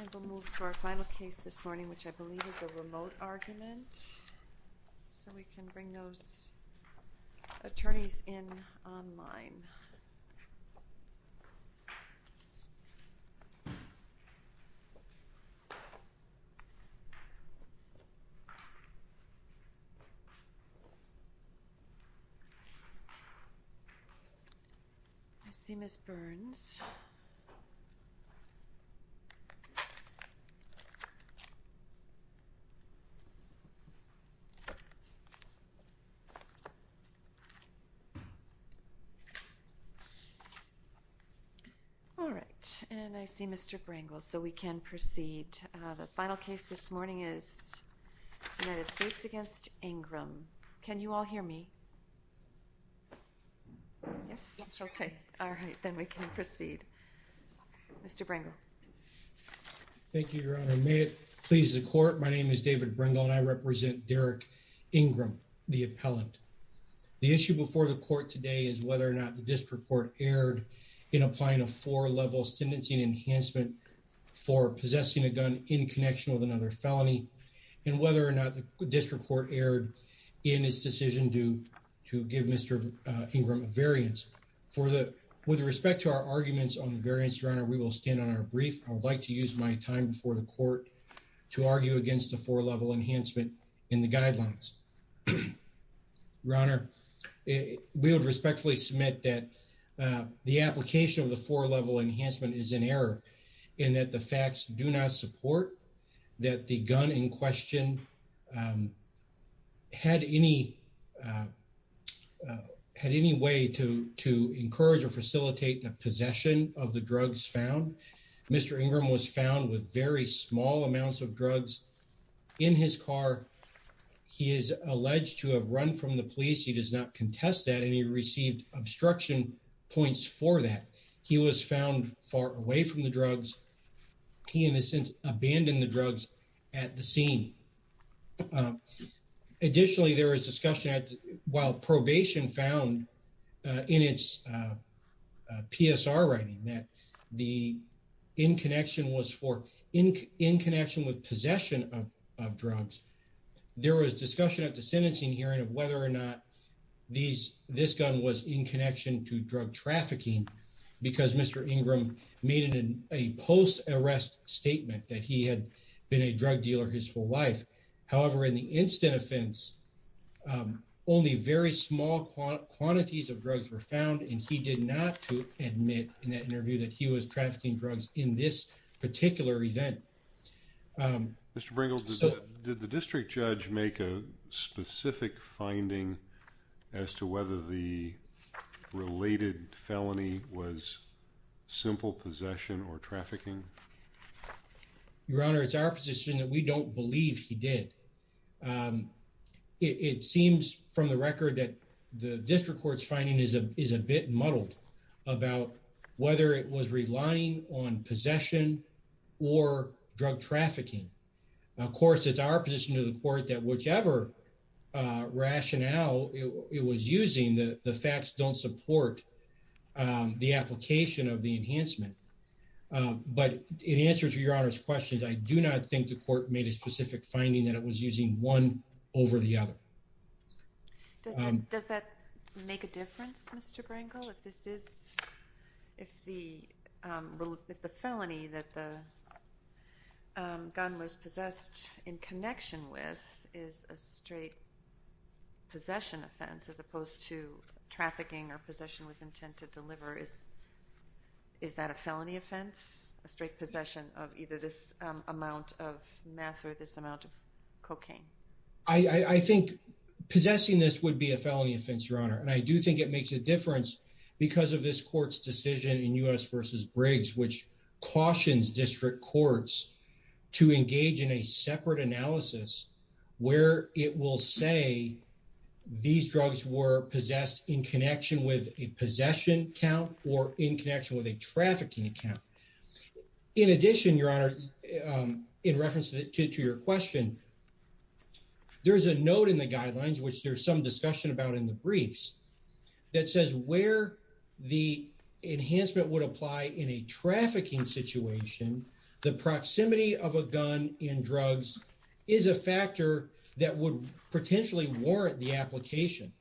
And we'll move to our final case this morning, which I believe is a remote argument, so we can bring those attorneys in online. I see Ms. Burns. All right, and I see Mr. Brangle, so we can proceed. The final case this morning is United States v. Ingram. Can you all hear me? Yes? Yes. Okay. All right. Then we can proceed. Mr. Brangle. Thank you, Your Honor. May it please the court, my name is David Brangle, and I represent Derrick Ingram, the appellant. The issue before the court today is whether or not the district court erred in applying a four-level sentencing enhancement for possessing a gun in connection with another felony, and whether or not the district court erred in its decision to give Mr. Ingram a variance With respect to our arguments on the variance, Your Honor, we will stand on our brief. I would like to use my time before the court to argue against the four-level enhancement in the guidelines. Your Honor, we would respectfully submit that the application of the four-level enhancement is in error, and that the facts do not support that the gun in question had any way to encourage or facilitate the possession of the drugs found. Mr. Ingram was found with very small amounts of drugs in his car. He is alleged to have run from the police. He does not contest that, and he received obstruction points for that. He was found far away from the drugs. He, in a sense, abandoned the drugs at the scene. Additionally, there was discussion while probation found in its PSR writing that the in connection was for in connection with possession of drugs, there was discussion at the sentencing hearing of whether or not this gun was in connection to drug trafficking because Mr. Ingram made it a post-arrest statement that he had been a drug dealer his whole life. However, in the instant offense, only very small quantities of drugs were found, and he did not admit in that interview that he was trafficking drugs in this particular event. Mr. Bringle, did the district judge make a specific finding as to whether the related felony was simple possession or trafficking? Your Honor, it's our position that we don't believe he did. It seems from the record that the district court's finding is a bit muddled about whether it was relying on possession or drug trafficking. Of course, it's our position to the court that whichever rationale it was using, the facts don't support the application of the enhancement. But in answer to Your Honor's questions, I do not think the court made a specific finding that it was using one over the other. Does that make a difference, Mr. Bringle? If this is, if the felony that the gun was possessed in connection with is a straight possession offense as opposed to trafficking or possession with intent to deliver, is that a felony offense, a straight possession of either this amount of meth or this amount of cocaine? I think possessing this would be a felony offense, Your Honor, and I do think it makes a difference because of this court's decision in U.S. versus Briggs, which cautions district courts to engage in a separate analysis where it will say these drugs were possessed in connection with a possession count or in connection with a trafficking account. In addition, Your Honor, in reference to your question, there is a note in the statute that says where the enhancement would apply in a trafficking situation, the proximity of a gun in drugs is a factor that would potentially warrant the application.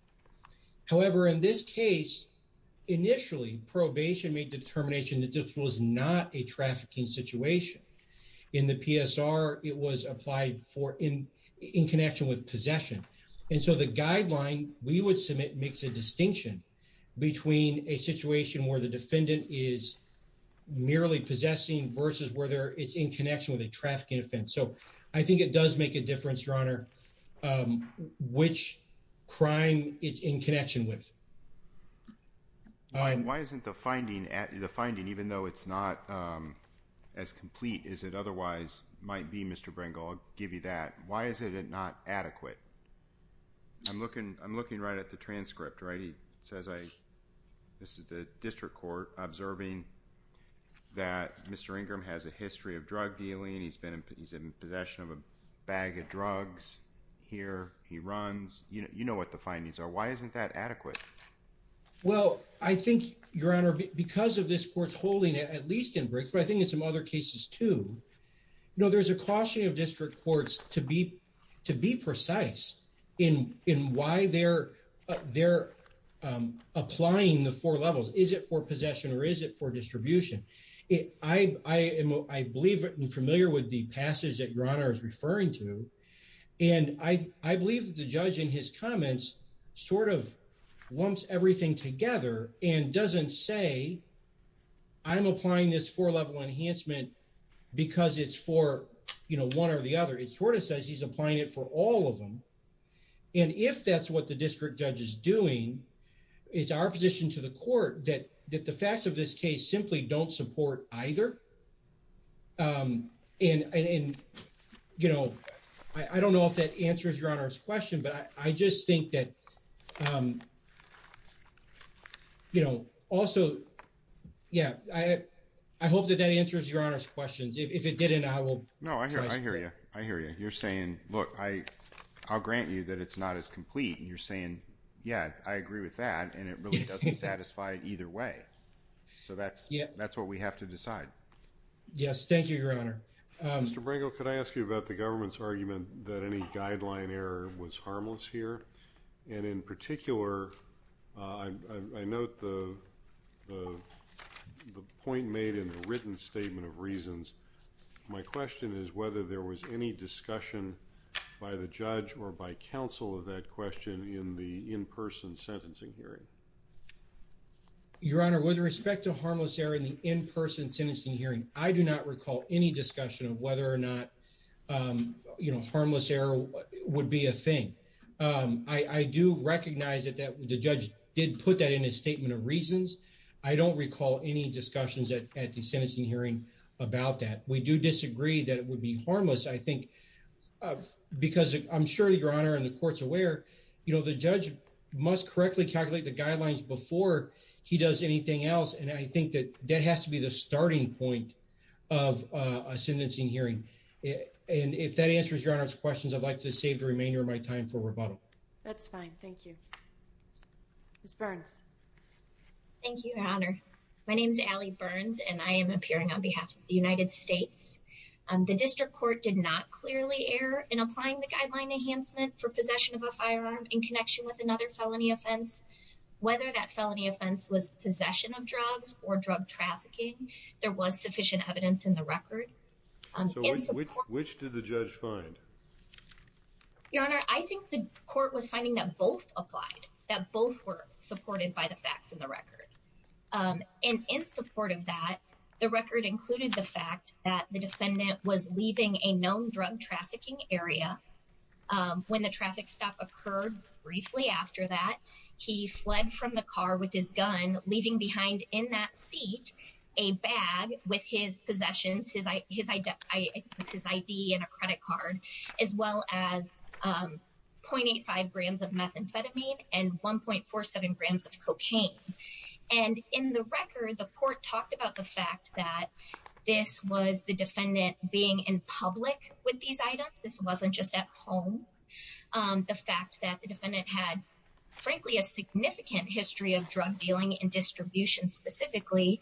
However, in this case, initially, probation made the determination that this was not a trafficking situation. In the PSR, it was applied for in connection with possession. And so the guideline we would submit makes a distinction between a situation where the defendant is merely possessing versus whether it's in connection with a trafficking offense. So I think it does make a difference, Your Honor, which crime it's in connection with. Why isn't the finding at the finding, even though it's not as complete as it otherwise might be, Mr. Brink, I'll give you that. Why is it not adequate? I'm looking I'm looking right at the transcript, right? He says I this is the district court observing that Mr. Ingram has a history of drug dealing. He's been he's in possession of a bag of drugs here. He runs. You know what the findings are. Why isn't that adequate? Well, I think, Your Honor, because of this court's holding it, at least in Brinkford, I think in some other cases, too, you know, there's a caution of district courts to be to in in why they're they're applying the four levels. Is it for possession or is it for distribution? I am I believe I'm familiar with the passage that your honor is referring to. And I believe that the judge in his comments sort of lumps everything together and doesn't say I'm applying this four level enhancement because it's for one or the other. It sort of says he's applying it for all of them. And if that's what the district judge is doing, it's our position to the court that that the facts of this case simply don't support either. And, you know, I don't know if that answers your honor's question, but I just think that, you know, also, yeah, I hope that that answers your honor's questions. If it didn't, I will. No, I hear you. I hear you. You're saying, look, I I'll grant you that it's not as complete. And you're saying, yeah, I agree with that. And it really doesn't satisfy it either way. So that's that's what we have to decide. Yes. Thank you, your honor. Mr. Brango, could I ask you about the government's argument that any guideline error was harmless here? And in particular, I note the the point made in the written statement of reasons. My question is whether there was any discussion by the judge or by counsel of that question in the in-person sentencing hearing. Your honor, with respect to harmless error in the in-person sentencing hearing, I do not recall any discussion of whether or not, you know, harmless error would be a thing. I do recognize that the judge did put that in a statement of reasons. I don't recall any discussions at the sentencing hearing about that. We do disagree that it would be harmless, I think, because I'm sure your honor and the court's aware, you know, the judge must correctly calculate the guidelines before he does anything else. And I think that that has to be the starting point of a sentencing hearing. And if that answers your honor's questions, I'd like to save the remainder of my time for rebuttal. That's fine. Thank you. Ms. Burns. Thank you, your honor. My name is Allie Burns, and I am appearing on behalf of the United States. The district court did not clearly err in applying the guideline enhancement for possession of a firearm in connection with another felony offense. Whether that felony offense was possession of drugs or drug trafficking, there was sufficient evidence in the record. So which did the judge find? Your honor, I think the court was finding that both applied, that both were supported by the facts in the record and in support of that, the record included the fact that the defendant was leaving a known drug trafficking area when the traffic stop occurred. Briefly after that, he fled from the car with his gun, leaving behind in that seat a bag with his possessions, his ID and a credit card, as well as 0.85 grams of methamphetamine and 1.47 grams of cocaine. And in the record, the court talked about the fact that this was the defendant being in public with these items. This wasn't just at home. The fact that the defendant had, frankly, a significant history of drug dealing and distribution specifically.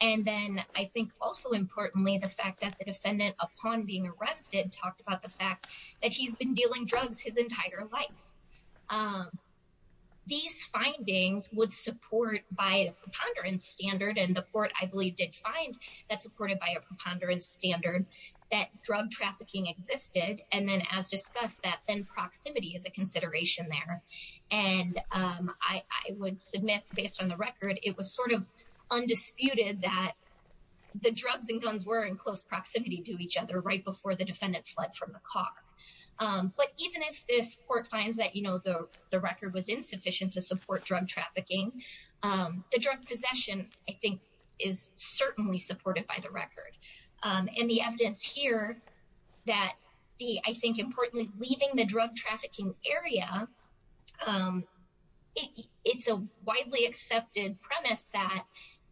And then I think also importantly, the fact that the defendant, upon being arrested, talked about the fact that he's been dealing drugs his entire life. These findings would support by a preponderance standard and the court, I believe, did find that supported by a preponderance standard that drug trafficking existed. And then as discussed, that then proximity is a consideration there. And I would submit, based on the record, it was sort of undisputed that the drugs and methamphetamine were in the possession of the defendant when the defendant fled from the car. But even if this court finds that, you know, the record was insufficient to support drug trafficking, the drug possession, I think, is certainly supported by the record. And the evidence here that the, I think, importantly, leaving the drug trafficking area, it's a widely accepted premise that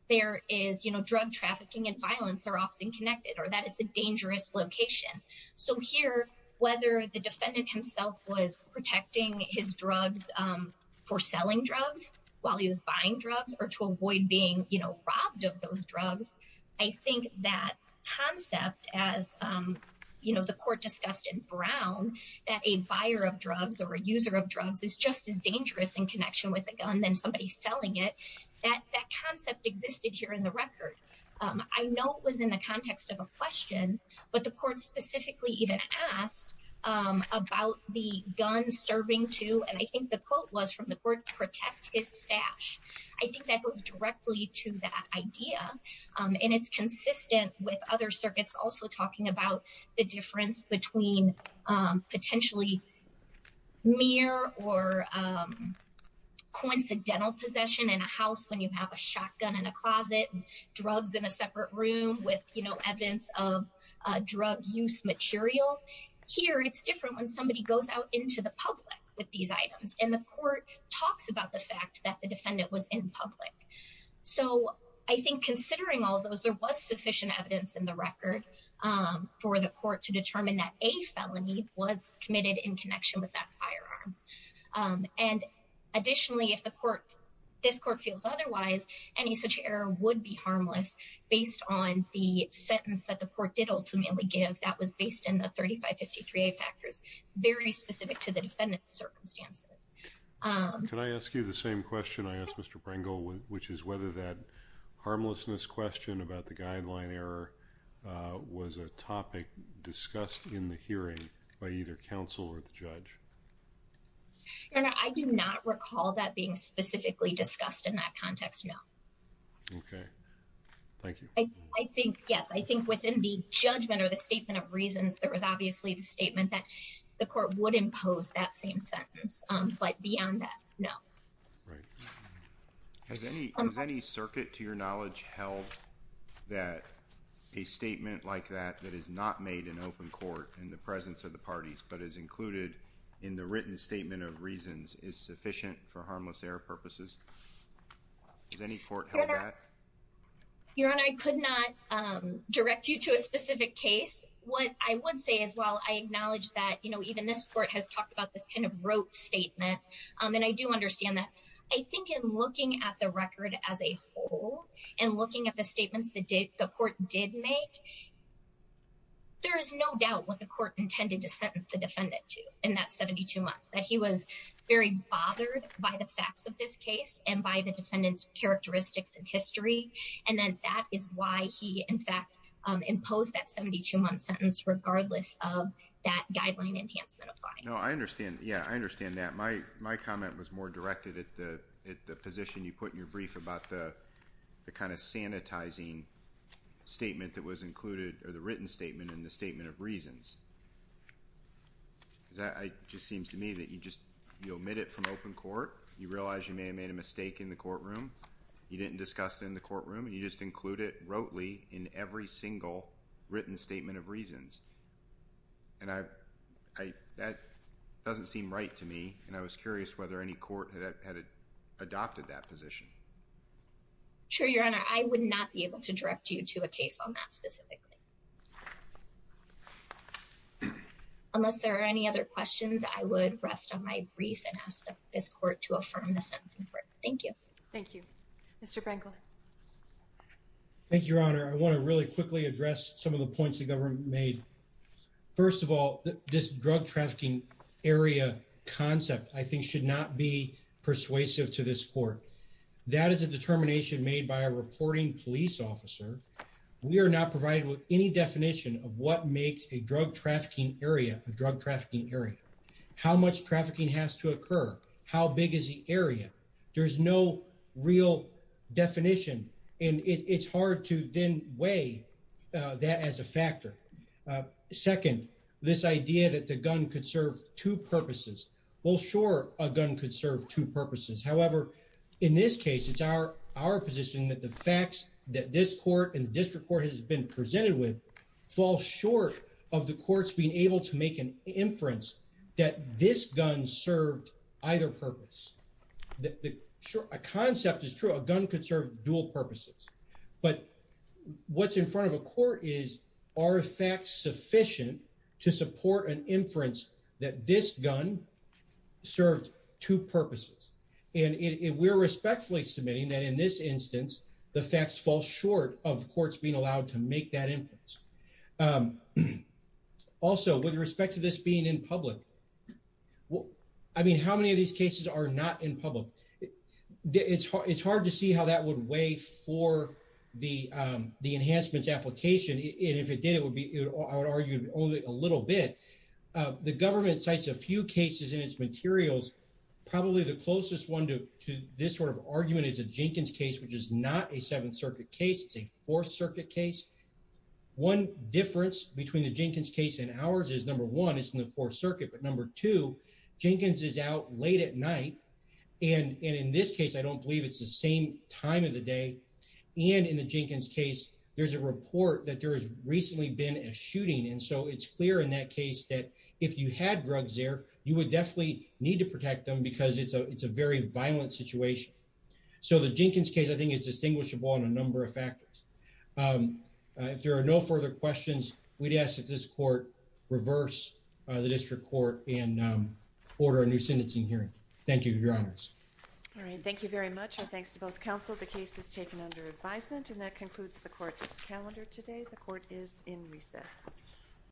there is, you know, drug trafficking and violence are often connected or that it's a dangerous location. So here, whether the defendant himself was protecting his drugs for selling drugs while he was buying drugs or to avoid being robbed of those drugs, I think that concept, as the buyer of drugs or a user of drugs, is just as dangerous in connection with a gun than somebody selling it. That concept existed here in the record. I know it was in the context of a question, but the court specifically even asked about the gun serving to, and I think the quote was from the court, protect his stash. I think that goes directly to that idea. And it's consistent with other circuits also talking about the difference between potentially mere or coincidental possession in a house when you have a shotgun in a closet, drugs in a separate room with evidence of drug use material. Here, it's different when somebody goes out into the public with these items. And the court talks about the fact that the defendant was in public. So I think considering all those, there was sufficient evidence in the record for the court to determine that a felony was committed in connection with that firearm. And additionally, if the court, this court feels otherwise, any such error would be harmless based on the sentence that the court did ultimately give that was based in the thirty five fifty three factors very specific to the defendant's circumstances. Can I ask you the same question I asked Mr. Pringle, which is whether that harmlessness question about the guideline error was a topic discussed in the hearing by either counsel or the judge? And I do not recall that being specifically discussed in that context. No. OK, thank you. I think, yes, I think within the judgment or the statement of reasons, there was obviously the statement that the court would impose that same sentence. But beyond that, no. Right. Has any has any circuit to your knowledge held that a statement like that that is not made in open court in the presence of the parties, but is included in the written statement of reasons is sufficient for harmless error purposes? Is any court. Your Honor, I could not direct you to a specific case. What I would say as well, I acknowledge that, you know, even this court has talked about this kind of rote statement. And I do understand that. I think in looking at the record as a whole and looking at the statements that the court did make. There is no doubt what the court intended to sentence the defendant to in that 72 months that he was very bothered by the facts of this case and by the defendant's characteristics and history. And then that is why he, in fact, imposed that 72 month sentence regardless of that Yeah, I understand that. My my comment was more directed at the at the position you put in your brief about the kind of sanitizing statement that was included or the written statement in the statement of reasons. That just seems to me that you just you omit it from open court, you realize you may have made a mistake in the courtroom, you didn't discuss it in the courtroom and you just include it rotely in every single written statement of reasons. And I that doesn't seem right to me, and I was curious whether any court had adopted that position. Sure, Your Honor, I would not be able to direct you to a case on that specifically. Unless there are any other questions, I would rest on my brief and ask this court to affirm the sentence. Thank you. Thank you, Mr. Pringle. Thank you, Your Honor. I want to really quickly address some of the points the government made. First of all, this drug trafficking area concept, I think, should not be persuasive to this court. That is a determination made by a reporting police officer. We are not provided with any definition of what makes a drug trafficking area, a drug trafficking area, how much trafficking has to occur, how big is the area. There is no real definition and it's hard to then weigh that as a factor. Second, this idea that the gun could serve two purposes. Well, sure, a gun could serve two purposes. However, in this case, it's our our position that the facts that this court and district court has been presented with fall short of the courts being able to make an inference that this gun served either purpose. The concept is true. A gun could serve dual purposes. But what's in front of a court is, are facts sufficient to support an inference that this gun served two purposes? And we're respectfully submitting that in this instance, the facts fall short of courts being allowed to make that inference. Also, with respect to this being in public. Well, I mean, how many of these cases are not in public? It's it's hard to see how that would weigh for the the enhancements application. And if it did, it would be, I would argue, only a little bit. The government cites a few cases in its materials. Probably the closest one to to this sort of argument is a Jenkins case, which is not a Seventh Circuit case. It's a Fourth Circuit case. One difference between the Jenkins case and ours is, number one, it's in the Fourth Circuit. But number two, Jenkins is out late at night. And in this case, I don't believe it's the same time of the day. And in the Jenkins case, there's a report that there has recently been a shooting. And so it's clear in that case that if you had drugs there, you would definitely need to protect them because it's a it's a very violent situation. So the Jenkins case, I think, is distinguishable on a number of factors. If there are no further questions, we'd ask that this court reverse the district court and order a new sentencing hearing. Thank you, Your Honors. All right. Thank you very much. And thanks to both counsel. The case is taken under advisement. And that concludes the court's calendar today. The court is in recess.